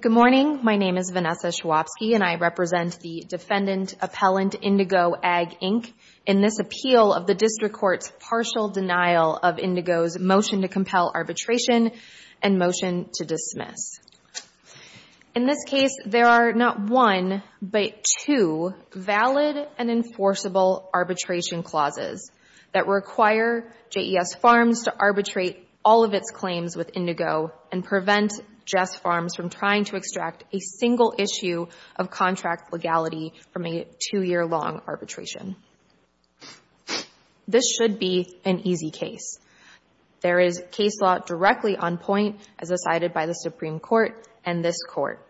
Good morning, my name is Vanessa Schwabsky and I represent the Defendant Appellant Indigo Ag Inc. in this appeal of the District Court's partial denial of Indigo's motion to compel arbitration and motion to dismiss. In this case, there are not one, but two valid and enforceable arbitration clauses that require JES Farms to arbitrate all of its claims with Indigo and prevent Jess Farms from trying to extract a single issue of contract legality from a two-year long arbitration. This should be an easy case. There is case law directly on point as decided by the Supreme Court and this Court.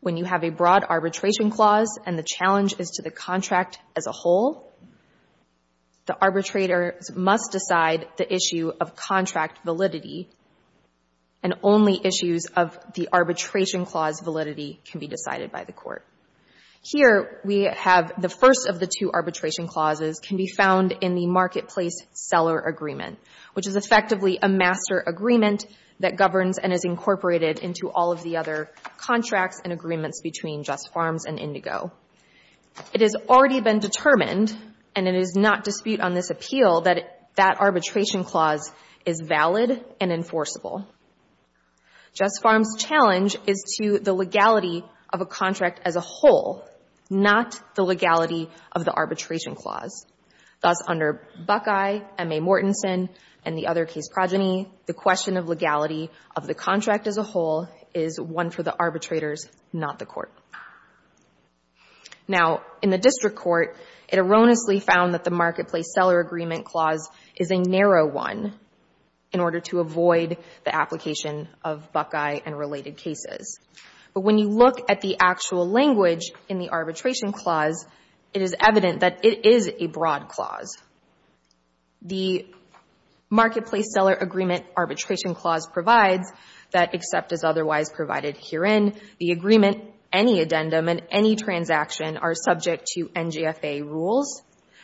When you have a broad arbitration clause and the challenge is to the contract as a whole, the arbitrator must decide the issue of contract validity and only issues of the arbitration clause validity can be decided by the Court. Here we have the first of the two arbitration clauses can be found in the Marketplace Seller Agreement, which is effectively a master agreement that governs and is incorporated into all of the other contracts and agreements between JES Farms and Indigo. It has already been determined, and it is not dispute on this appeal, that that arbitration clause is valid and enforceable. JES Farms' challenge is to the legality of a contract as a whole, not the legality of the arbitration clause. Thus, under Buckeye, M.A. Mortensen, and the other case progeny, the question of legality of the contract as a whole is one for the arbitrators, not the Court. Now in the District Court, it erroneously found that the Marketplace Seller Agreement clause is a narrow one in order to avoid the application of Buckeye and related cases. But when you look at the actual language in the arbitration clause, it is evident that it is a broad clause. The Marketplace Seller Agreement arbitration clause provides that except as otherwise provided herein, the agreement, any addendum, and any transaction are subject to NGFA rules,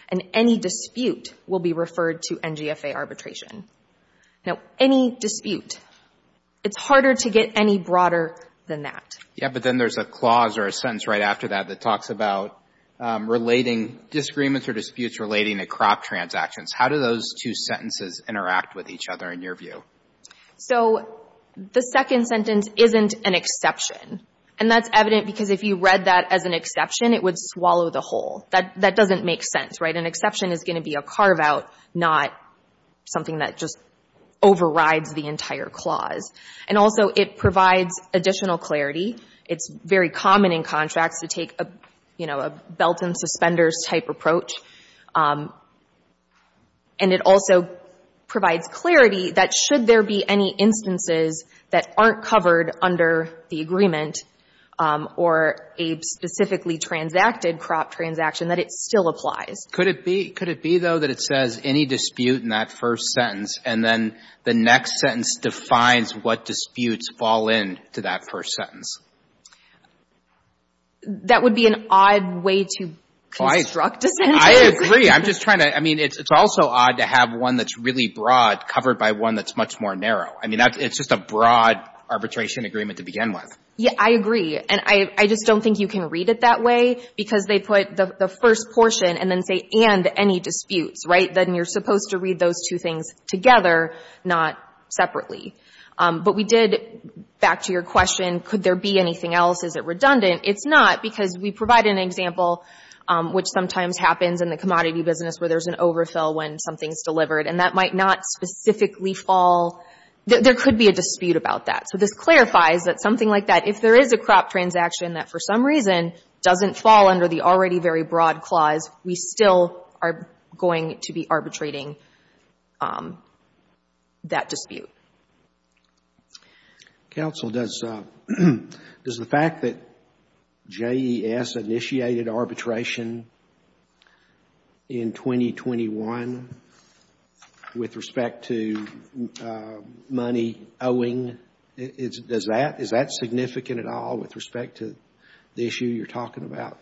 and any dispute will be referred to NGFA arbitration. Now, any dispute, it's harder to get any broader than that. Yeah, but then there's a clause or a sentence right after that that talks about relating disagreements or disputes relating to crop transactions. How do those two sentences interact with each other in your view? So the second sentence isn't an exception. And that's evident because if you read that as an exception, it would swallow the whole. That doesn't make sense, right? An exception is going to be a carve-out, not something that just overrides the entire clause. And also, it provides additional clarity. It's very common in contracts to take a, you know, a belt and suspenders type approach. And it also provides clarity that should there be any instances that aren't covered under the agreement or a specifically transacted crop transaction, that it still applies. Could it be, though, that it says any dispute in that first sentence, and then the next sentence defines what disputes fall into that first sentence? That would be an odd way to construct a sentence. I agree. I'm just trying to, I mean, it's also odd to have one that's really broad covered by one that's much more narrow. I mean, it's just a broad arbitration agreement to begin with. Yeah, I agree. And I just don't think you can read it that way because they put the first portion and then say, and any disputes, right? Then you're supposed to read those two things together, not separately. But we did, back to your question, could there be anything else? Is it redundant? It's not because we provide an example, which sometimes happens in the commodity business where there's an overfill when something's delivered. And that might not specifically fall. There could be a dispute about that. So this clarifies that something like that, if there is a crop transaction that for some reason doesn't fall under the already very broad clause, we still are going to be arbitrating that dispute. Counsel, does the fact that JES initiated arbitration in 2021 with respect to money owing, is that significant at all with respect to the issue you're talking about?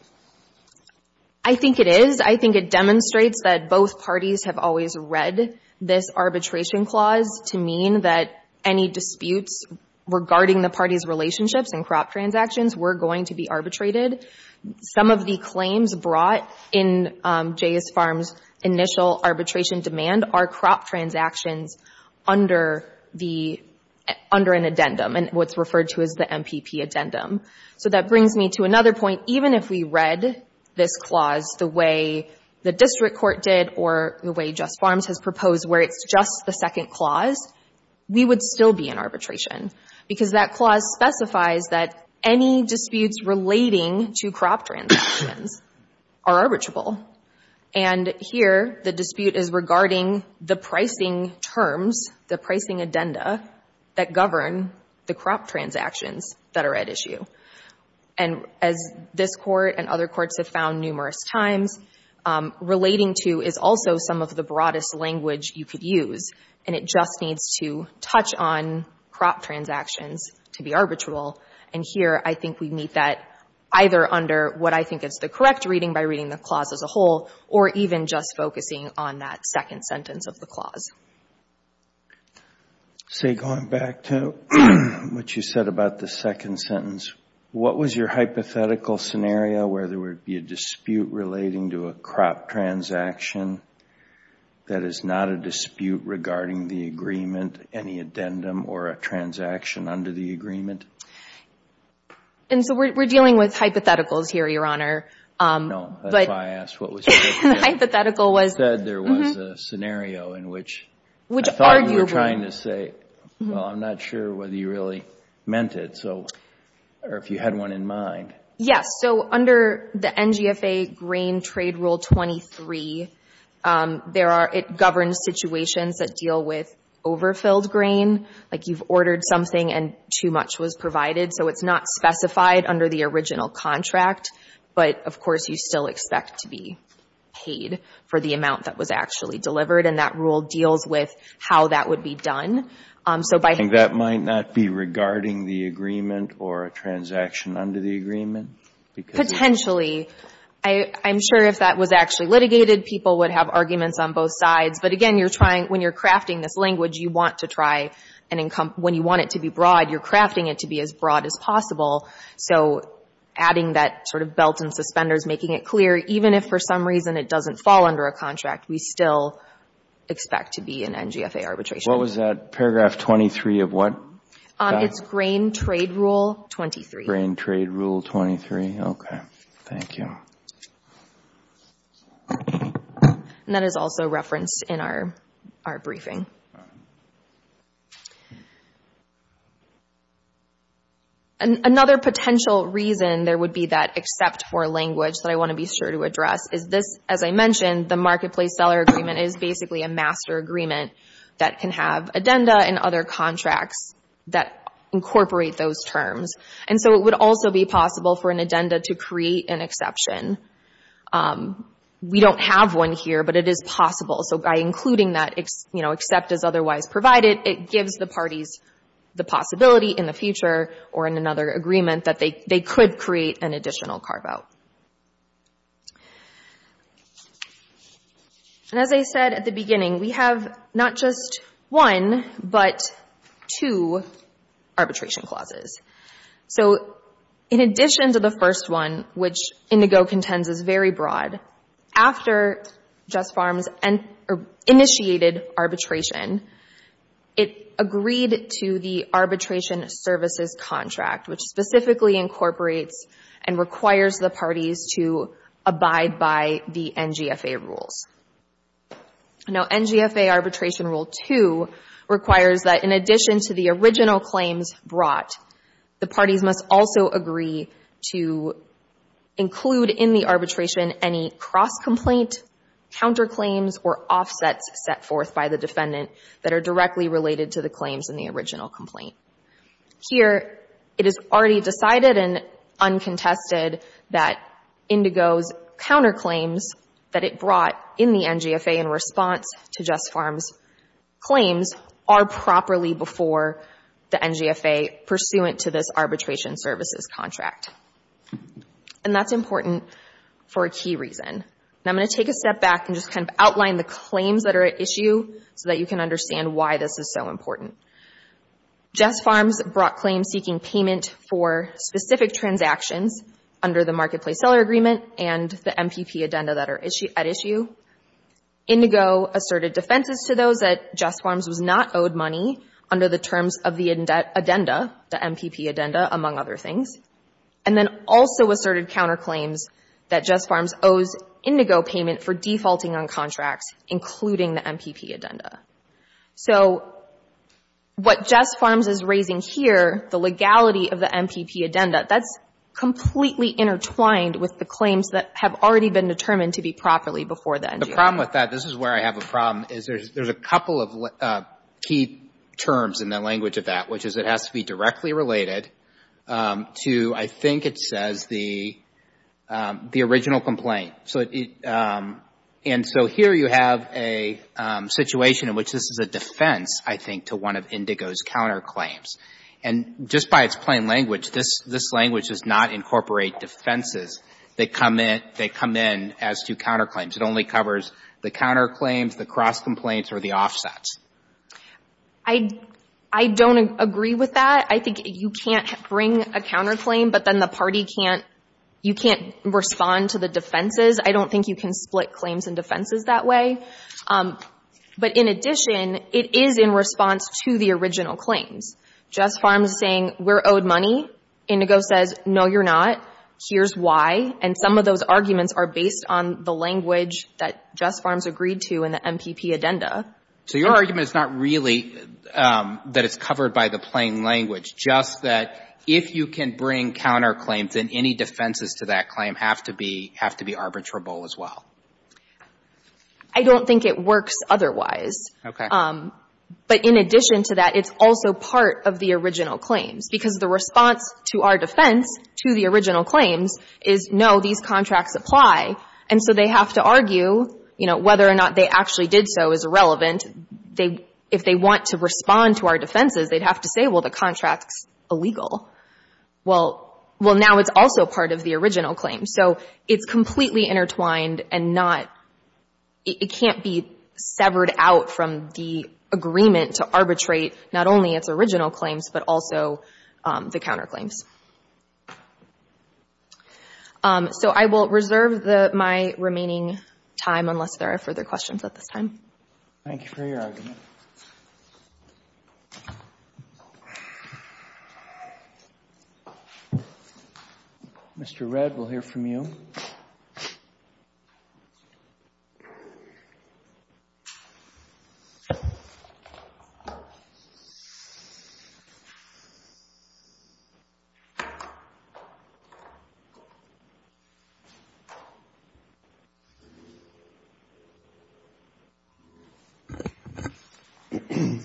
I think it is. I think it demonstrates that both parties have always read this arbitration clause to mean that any disputes regarding the parties' relationships and crop transactions were going to be arbitrated. Some of the claims brought in JES Farms' initial arbitration demand are crop transactions under an addendum, and what's referred to as the MPP addendum. So that brings me to another point. Even if we read this clause the way the district court did or the way JES Farms has proposed, where it's just the second clause, we would still be in arbitration. Because that clause specifies that any disputes relating to crop transactions are arbitrable. And here, the dispute is regarding the pricing terms, the pricing addenda, that govern the crop transactions that are at issue. And as this court and other courts have found numerous times, relating to is also some of the broadest language you could use. And it just needs to touch on crop transactions to be arbitrable. And here, I think we meet that either under what I think is the correct reading by reading the clause as a whole, or even just focusing on that second sentence of the clause. So going back to what you said about the second sentence, what was your hypothetical scenario where there would be a dispute relating to a crop transaction that is not a dispute regarding the agreement, any addendum, or a transaction under the agreement? And so we're dealing with hypotheticals here, Your Honor. No, that's why I asked what was your hypothetical. You said there was a scenario in which I thought you were trying to say, well, I'm not sure whether you really meant it, or if you had one in mind. Yes, so under the NGFA Grain Trade Rule 23, it governs situations that deal with overfilled grain. Like you've ordered something and too much was provided. So it's not specified under the original contract. But, of course, you still expect to be paid for the amount that was actually delivered. And that rule deals with how that would be done. And that might not be regarding the agreement or a transaction under the agreement? Potentially. I'm sure if that was actually litigated, people would have arguments on both sides. But again, you're trying, when you're crafting this language, you want to try and when you want it to be broad, you're crafting it to be as broad as possible. So adding that sort of belt and suspenders, making it clear, even if for some reason it doesn't fall under a contract, we still expect to be in NGFA arbitration. What was that? Paragraph 23 of what? It's Grain Trade Rule 23. Grain Trade Rule 23. Okay, thank you. And that is also referenced in our briefing. Another potential reason there would be that except for language that I want to be sure to address is this, as I mentioned, the Marketplace Seller Agreement is basically a master agreement that can have addenda and other contracts that incorporate those terms. And so it would also be possible for an addenda to create an exception. We don't have one here, but it is possible. And as I said at the beginning, we have not just one, but two arbitration clauses. So in addition to the first one, which Indigo contends is very broad, after Just Farms initiated arbitration, it agreed to the arbitration services contract, which specifically incorporates and requires the parties to abide by the NGFA rules. Now, NGFA Arbitration Rule 2 requires that in addition to the original claims brought, the parties must also agree to include in the arbitration any cross-complaint, counterclaims, or offsets set forth by the defendant that are directly related to the claims in the original complaint. Here, it is already decided and uncontested that Indigo's counterclaims that it brought in the NGFA in response to Just Farms claims are properly before the NGFA pursuant to this arbitration services contract. And that's important for a key reason. Now, I'm going to take a step back and just kind of outline the claims that are at issue so that you can understand why this is so important. Just Farms brought claims seeking payment for specific transactions under the Marketplace Seller Agreement and the MPP addenda that are at issue. Indigo asserted defenses to those that Just Farms was not owed money under the terms of the addenda, the MPP addenda, among other things. And then also asserted counterclaims that Just Farms owes Indigo payment for defaulting on contracts, including the MPP addenda. So what Just Farms is raising here, the legality of the MPP addenda, that's completely intertwined with the claims that have already been determined to be properly before the NGFA. The problem with that, this is where I have a problem, is there's a couple of key terms in the language of that, which is it has to be directly related to, I think it says, the original complaint. And so here you have a situation in which this is a defense, I think, to one of Indigo's counterclaims. And just by its plain language, this language does not incorporate defenses that come in as to counterclaims. It only covers the counterclaims, the cross complaints, or the offsets. I don't agree with that. I think you can't bring a counterclaim, but then the party can't, you can't respond to the defenses. I don't think you can split claims and defenses that way. But in addition, it is in response to the original claims. Just Farms is saying, we're owed money. Indigo says, no, you're not. Here's why. And some of those arguments are based on the language that Just Farms agreed to in the MPP addenda. So your argument is not really that it's covered by the plain language, just that if you can bring counterclaims, then any defenses to that claim have to be arbitrable as well. I don't think it works otherwise. But in addition to that, it's also part of the original claims. Because the response to our defense, to the original claims, is no, these contracts apply. And so they have to argue, you know, whether or not they actually did so is irrelevant. If they want to respond to our defenses, they'd have to say, well, the contract's illegal. Well, now it's also part of the original claim. So it's completely intertwined and not, it can't be severed out from the agreement to arbitrate not only its original claims, but also the counterclaims. So I will reserve my remaining time unless there are further questions at this time. Thank you for your argument. Mr. Redd, we'll hear from you. Thank you.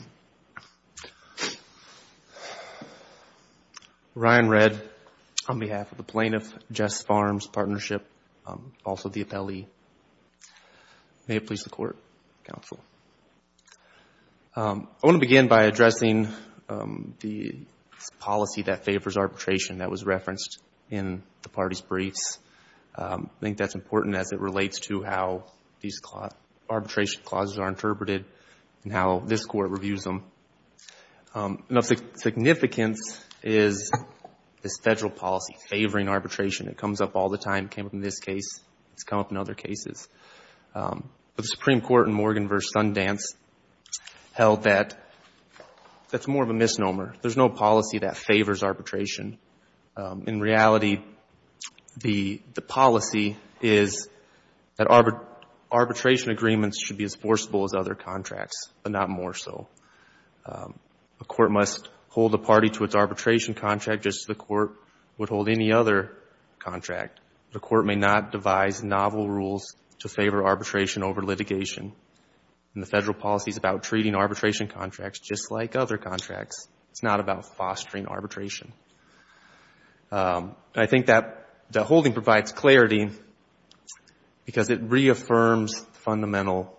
Ryan Redd, on behalf of the plaintiff, Jess Farms Partnership, also the appellee. May it please the Court, counsel. I want to begin by addressing the policy that favors arbitration that was referenced in the party's briefs. I think that's important as it relates to how these arbitration clauses are interpreted and how this Court reviews them. Enough significance is this federal policy favoring arbitration. It comes up all the time. It came up in this case. It's come up in other cases. But the Supreme Court in Morgan v. Sundance held that that's more of a misnomer. There's no policy that favors arbitration. In reality, the policy is that arbitration agreements should be as forcible as other contracts, but not more so. A court must hold a party to its arbitration contract just as the court would hold any other contract. The court may not devise novel rules to favor arbitration over litigation. And the federal policy is about treating arbitration contracts just like other contracts. It's not about fostering arbitration. And I think that holding provides clarity because it reaffirms the fundamental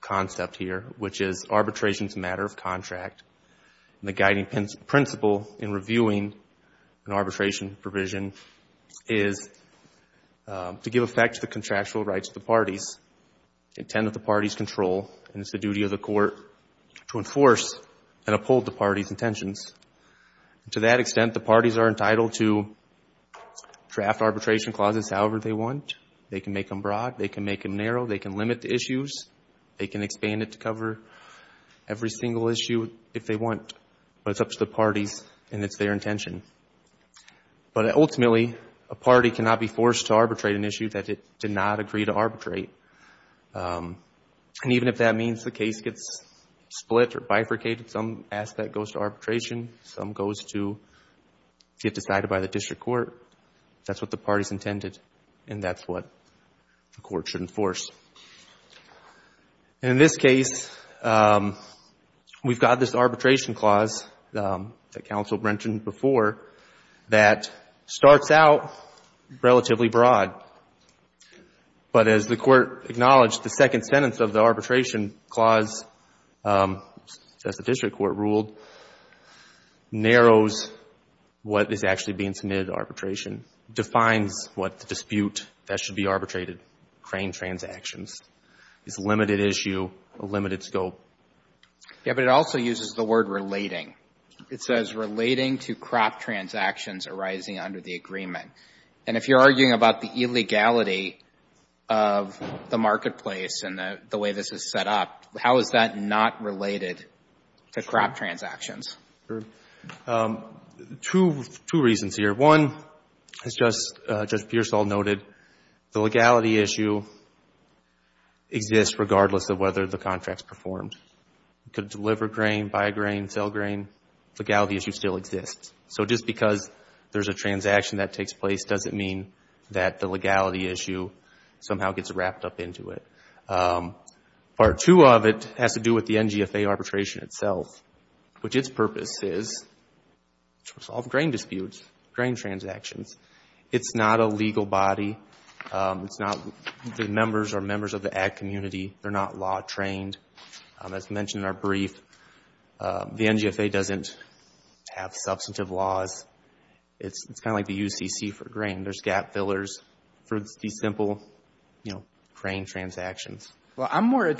concept here, which is arbitration is a matter of contract. And the guiding principle in reviewing an arbitration provision is to give effect to the contractual rights of the parties, intend that the parties control, and it's the duty of the court to enforce and uphold the parties' intentions. To that extent, the parties are entitled to draft arbitration clauses however they want. They can make them broad. They can make them narrow. They can limit the issues. They can expand it to cover every single issue if they want. But it's up to the parties and it's their intention. But ultimately, a party cannot be forced to arbitrate an issue that it did not agree to arbitrate. And even if that means the case gets split or bifurcated, some aspect goes to arbitration, some goes to get decided by the district court. That's what the parties intended and that's what the court should enforce. And in this case, we've got this arbitration clause that counsel mentioned before that starts out relatively broad. But as the court acknowledged, the second sentence of the arbitration clause, as the district court ruled, narrows what is actually being submitted to arbitration, defines what the dispute that should be arbitrated, crane transactions, is a limited issue, a limited scope. Yeah, but it also uses the word relating. It says relating to crop transactions arising under the agreement. And if you're arguing about the illegality of the marketplace and the way this is set up, how is that not related to crop transactions? Two reasons here. One, as Judge Pearsall noted, the legality issue exists regardless of whether the contract is performed. It could deliver grain, buy grain, sell grain. The legality issue still exists. So just because there's a transaction that takes place doesn't mean that the legality issue somehow gets wrapped up into it. Part two of it has to do with the NGFA arbitration itself, which its purpose is to resolve grain disputes, grain transactions. It's not a legal body. It's not the members or members of the ag community. They're not law trained. As mentioned in our brief, the NGFA doesn't have substantive laws. It's kind of like the UCC for grain. There's gap fillers for these simple, you know, crane transactions. Well, I'm more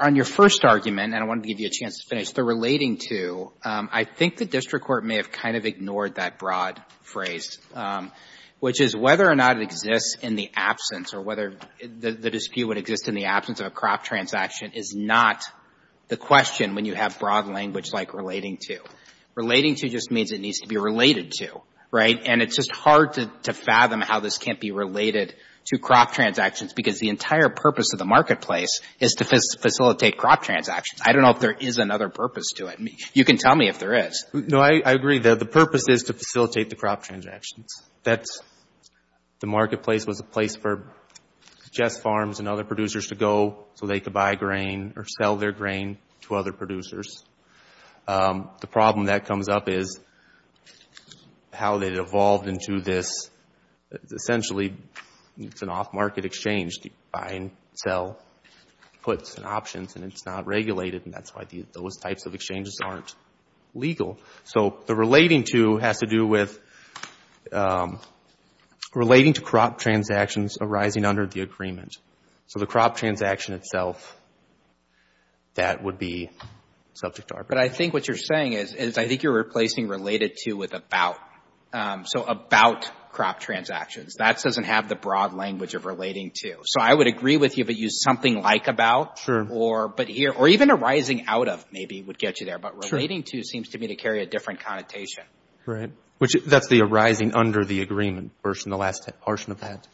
on your first argument, and I want to give you a chance to finish, the relating to, I think the district court may have kind of ignored that broad phrase, which is whether or not it exists in the absence or whether the dispute would exist in the is not the question when you have broad language like relating to. Relating to just means it needs to be related to, right? And it's just hard to fathom how this can't be related to crop transactions because the entire purpose of the marketplace is to facilitate crop transactions. I don't know if there is another purpose to it. You can tell me if there is. No, I agree. The purpose is to facilitate the crop transactions. That's the marketplace was a place for Jess Farms and other producers to go so they could buy grain or sell their grain to other producers. The problem that comes up is how they evolved into this. Essentially, it's an off-market exchange. The buy and sell puts and options, and it's not regulated, and that's why those types of exchanges aren't legal. So the relating to has to do with relating to crop transactions arising under the agreement. So the crop transaction itself, that would be subject to arbitration. But I think what you're saying is I think you're replacing related to with about. So about crop transactions. That doesn't have the broad language of relating to. So I would agree with you if it used something like about. Sure. Or but here or even arising out of maybe would get you there. Sure. But relating to seems to me to carry a different connotation. Right. Which that's the arising under the agreement version. The last portion of that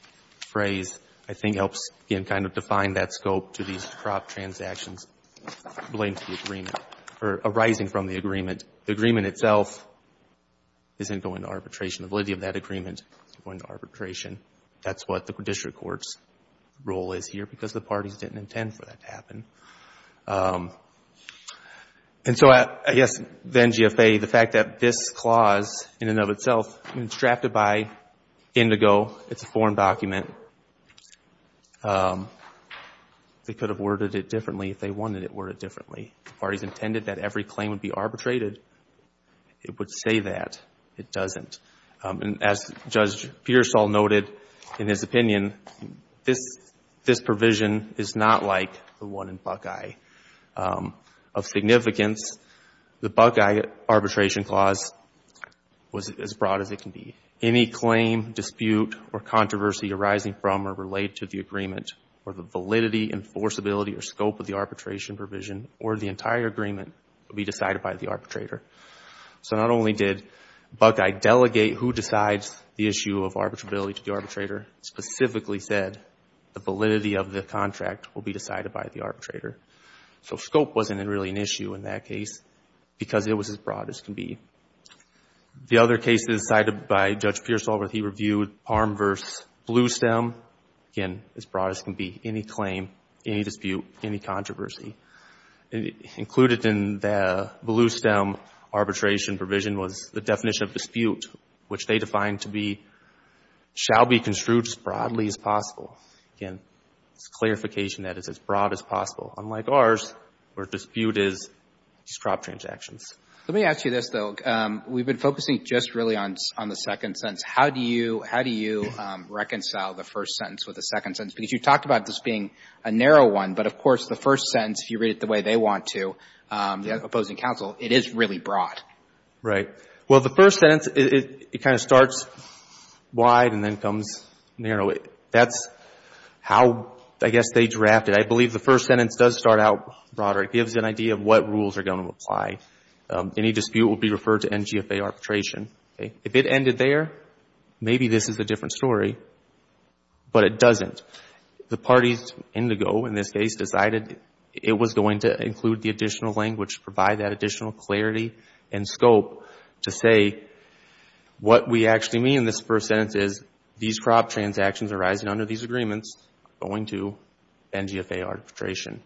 phrase, I think, helps again kind of define that scope to these crop transactions relating to the agreement or arising from the agreement. The agreement itself isn't going to arbitration. The validity of that agreement is going to arbitration. That's what the district court's role is here because the parties didn't intend for that to happen. And so I guess then, GFA, the fact that this clause in and of itself, I mean, it's drafted by Indigo. It's a foreign document. They could have worded it differently if they wanted it worded differently. The parties intended that every claim would be arbitrated. It would say that. It doesn't. And as Judge Pearsall noted in his opinion, this provision is not like the one in Buckeye of significance. The Buckeye arbitration clause was as broad as it can be. Any claim, dispute, or controversy arising from or related to the agreement or the validity, enforceability, or scope of the arbitration provision or the entire agreement will be decided by the arbitrator. So not only did Buckeye delegate who decides the issue of arbitrability to the arbitrator, specifically said the validity of the contract will be decided by the arbitrator. So scope wasn't really an issue in that case because it was as broad as can be. The other cases cited by Judge Pearsall where he reviewed Parham v. Bluestem, again, as broad as can be. Any claim, any dispute, any controversy. Included in the Bluestem arbitration provision was the definition of dispute, which they defined to be, shall be construed as broadly as possible. Again, it's a clarification that it's as broad as possible. Unlike ours, where dispute is just crop transactions. Let me ask you this, though. We've been focusing just really on the second sentence. How do you reconcile the first sentence with the second sentence? Because you talked about this being a narrow one, but of course the first sentence, if you read it the way they want to, the opposing counsel, it is really broad. Right. Well, the first sentence, it kind of starts wide and then comes narrow. That's how, I guess, they draft it. I believe the first sentence does start out broader. It gives an idea of what rules are going to apply. Any dispute will be referred to NGFA arbitration. If it ended there, maybe this is a different story, but it doesn't. The parties indigo, in this case, decided it was going to include the additional language to provide that additional clarity and scope to say what we actually mean in this first sentence is these crop transactions arising under these agreements are going to NGFA arbitration.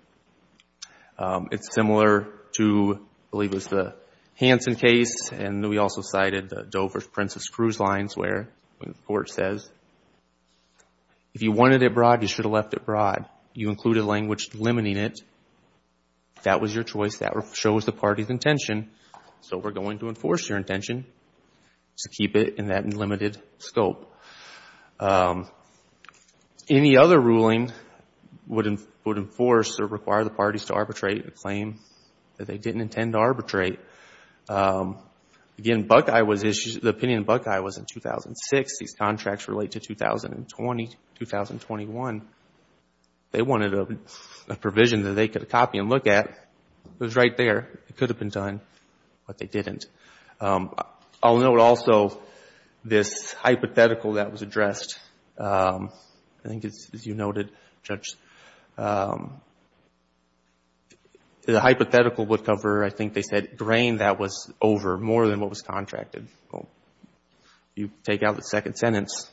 It's similar to, I believe it was the Hansen case, and we also cited the Dover Princess cruise lines where the court says, if you wanted it broad, you should have left it broad. You included language limiting it. That was your choice. That shows the party's intention, so we're going to enforce your intention to keep it in that limited scope. Any other ruling would enforce or require the parties to arbitrate a claim that they didn't intend to arbitrate. Again, the opinion of Buckeye was in 2006. These contracts relate to 2020, 2021. They wanted a provision that they could copy and look at. It was right there. It could have been done, but they didn't. I'll note also this hypothetical that was addressed. I think, as you noted, Judge, the hypothetical would cover, I think they said, grain that was over more than what was contracted. You take out the second sentence,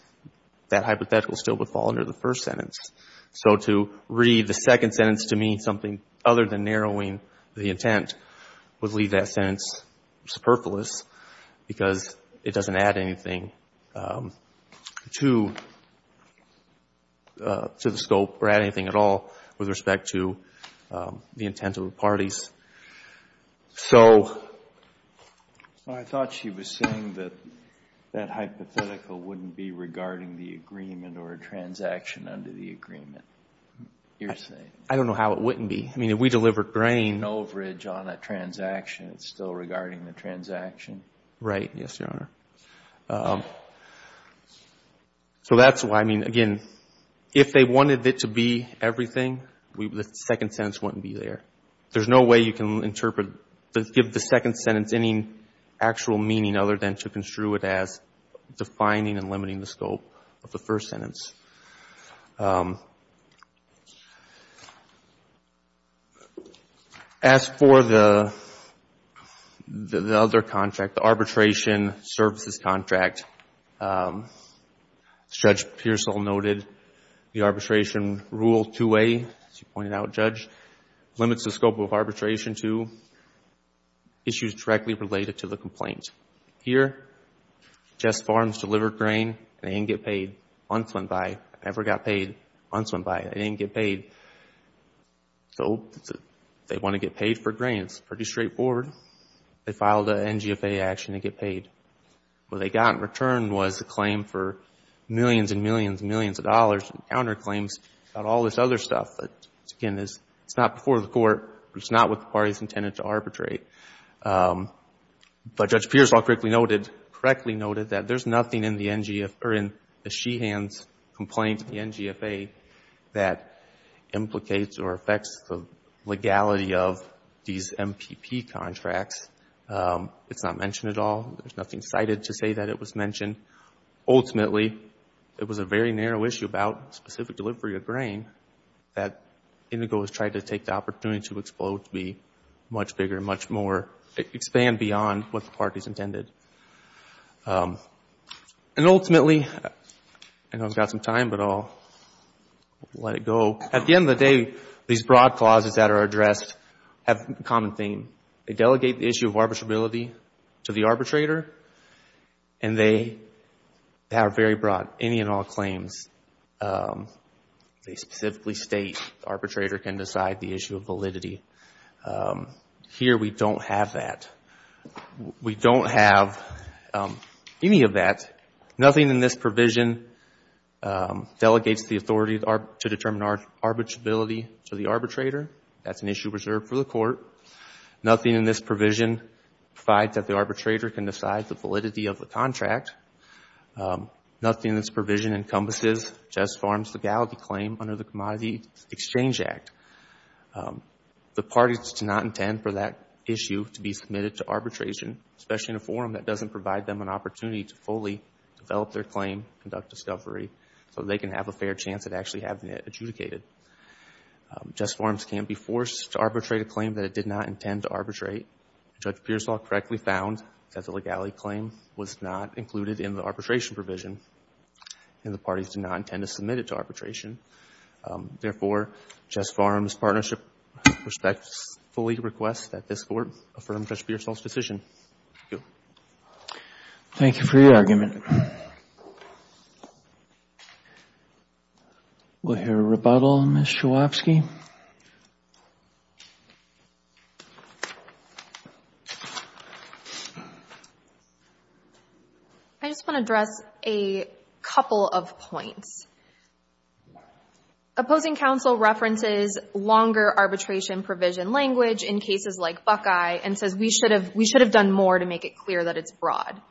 that hypothetical still would fall under the first sentence. To read the second sentence to mean something other than narrowing the intent would leave that sentence superfluous because it doesn't add anything to the scope or add anything at all with respect to the intent of the parties. Well, I thought she was saying that that hypothetical wouldn't be regarding the agreement or a transaction under the agreement, you're saying. I don't know how it wouldn't be. We delivered grain. There's no bridge on a transaction. It's still regarding the transaction. Right. Yes, Your Honor. So that's why, again, if they wanted it to be everything, the second sentence wouldn't be there. There's no way you can interpret, give the second sentence any actual meaning other than to construe it as defining and limiting the scope of the first sentence. As for the other contract, the arbitration services contract, Judge Pearsall noted the arbitration rule 2A, as you pointed out, Judge, limits the scope of arbitration to issues directly related to the complaint. Here, Jess Farms delivered grain. I didn't get paid. Once went by. I never got paid. Once went by. I didn't get paid. So they want to get paid for grain. It's pretty straightforward. They filed an NGFA action to get paid. What they got in return was a claim for millions and millions and millions of dollars and counter claims about all this other stuff that, again, it's not before the court. It's not what the party's intended to arbitrate. But Judge Pearsall correctly noted that there's nothing in the Sheehan's complaint, the NGFA, that implicates or affects the legality of these MPP contracts. It's not mentioned at all. There's nothing cited to say that it was mentioned. Ultimately, it was a very narrow issue about specific delivery of grain that Indigo has tried to take the opportunity to explode, to be much bigger, much more, expand beyond what the party's intended. Ultimately, I know I've got some time, but I'll let it go. At the end of the day, these broad clauses that are addressed have a common theme. They delegate the issue of arbitrability to the arbitrator, and they have very broad, any and all claims. They specifically state the arbitrator can decide the issue of validity. Here, we don't have that. We don't have any of that. Nothing in this provision delegates the authority to determine arbitrability to the arbitrator. That's an issue reserved for the court. Nothing in this provision provides that the arbitrator can decide the validity of the contract. Nothing in this provision encompasses Jess Farms' legality claim under the Commodity Exchange Act. The parties do not intend for that issue to be submitted to arbitration, especially in a forum that doesn't provide them an opportunity to fully develop their claim, conduct discovery, so they can have a fair chance at actually having it adjudicated. Jess Farms can't be forced to arbitrate a claim that it did not intend to arbitrate. Judge Pearsall correctly found that the legality claim was not included in the arbitration provision, and the parties do not intend to submit it to arbitration. Therefore, Jess Farms Partnership respectfully requests that this court affirm Judge Pearsall's decision. Thank you for your argument. We'll hear a rebuttal, Ms. Chwapski. I just want to address a couple of points. Opposing counsel references longer arbitration provision language in cases like Buckeye and says we should have done more to make it clear that it's broad.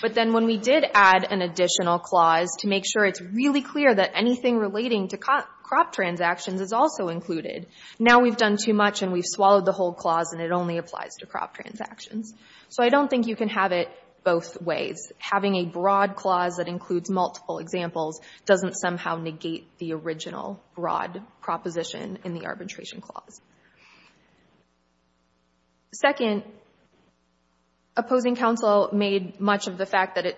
But then when we did add an additional clause to make sure it's really clear that anything relating to crop transactions is also included, now we've done too much and we've swallowed the whole clause and it only applies to crop transactions. So I don't think you can have it both ways. Having a broad clause that includes multiple examples doesn't somehow negate the original broad proposition in the arbitration clause. Second, opposing counsel made much of the fact that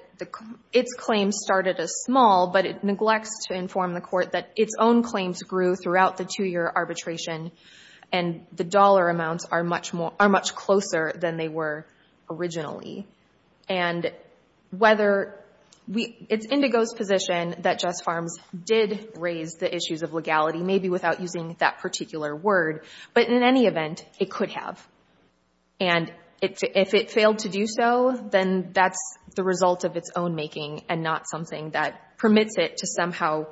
its claims started as small, but it neglects to inform the court that its own claims grew throughout the two-year arbitration and the dollar amounts are much closer than they were originally. And it's Indigo's position that Just Farms did raise the issues of legality, maybe without using that particular word, but in any event, it could have. And if it failed to do so, then that's the result of its own making and not something that permits it to somehow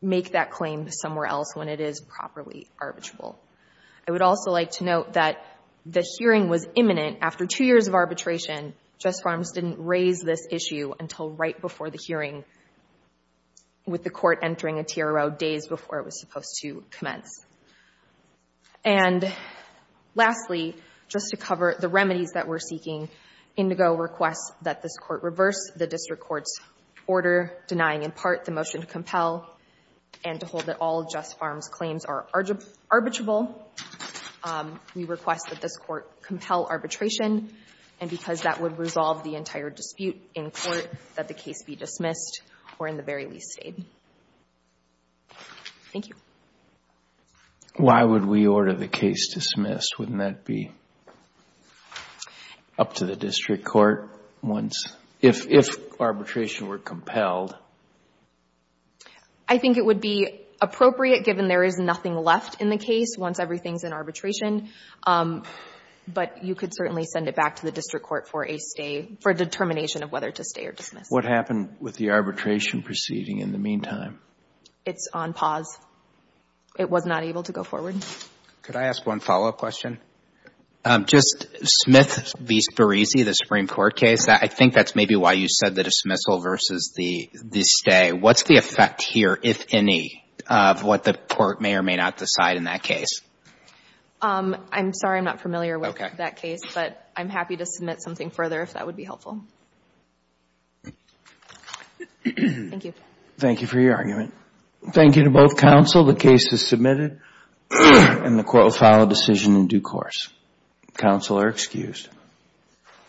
make that claim somewhere else when it is properly arbitrable. I would also like to note that the hearing was imminent after two years of arbitration. Just Farms didn't raise this issue until right before the hearing, with the court entering a TRO days before it was supposed to commence. And lastly, just to cover the remedies that we're seeking, Indigo requests that this court reverse the district court's order denying in part the motion to compel and to hold that Just Farms' claims are arbitrable. We request that this court compel arbitration. And because that would resolve the entire dispute in court, that the case be dismissed or in the very least stayed. Thank you. Why would we order the case dismissed? Wouldn't that be up to the district court once, if arbitration were compelled? I think it would be appropriate given there is nothing left in the case once everything's in arbitration, but you could certainly send it back to the district court for a stay, for a determination of whether to stay or dismiss. What happened with the arbitration proceeding in the meantime? It's on pause. It was not able to go forward. Could I ask one follow-up question? Just Smith v. Sperese, the Supreme Court case, I think that's maybe why you said the dismissal versus the stay. What's the effect here, if any, of what the court may or may not decide in that case? I'm sorry, I'm not familiar with that case, but I'm happy to submit something further if that would be helpful. Thank you. Thank you for your argument. Thank you to both counsel. The case is submitted and the court will file a decision in due course. Counsel are excused.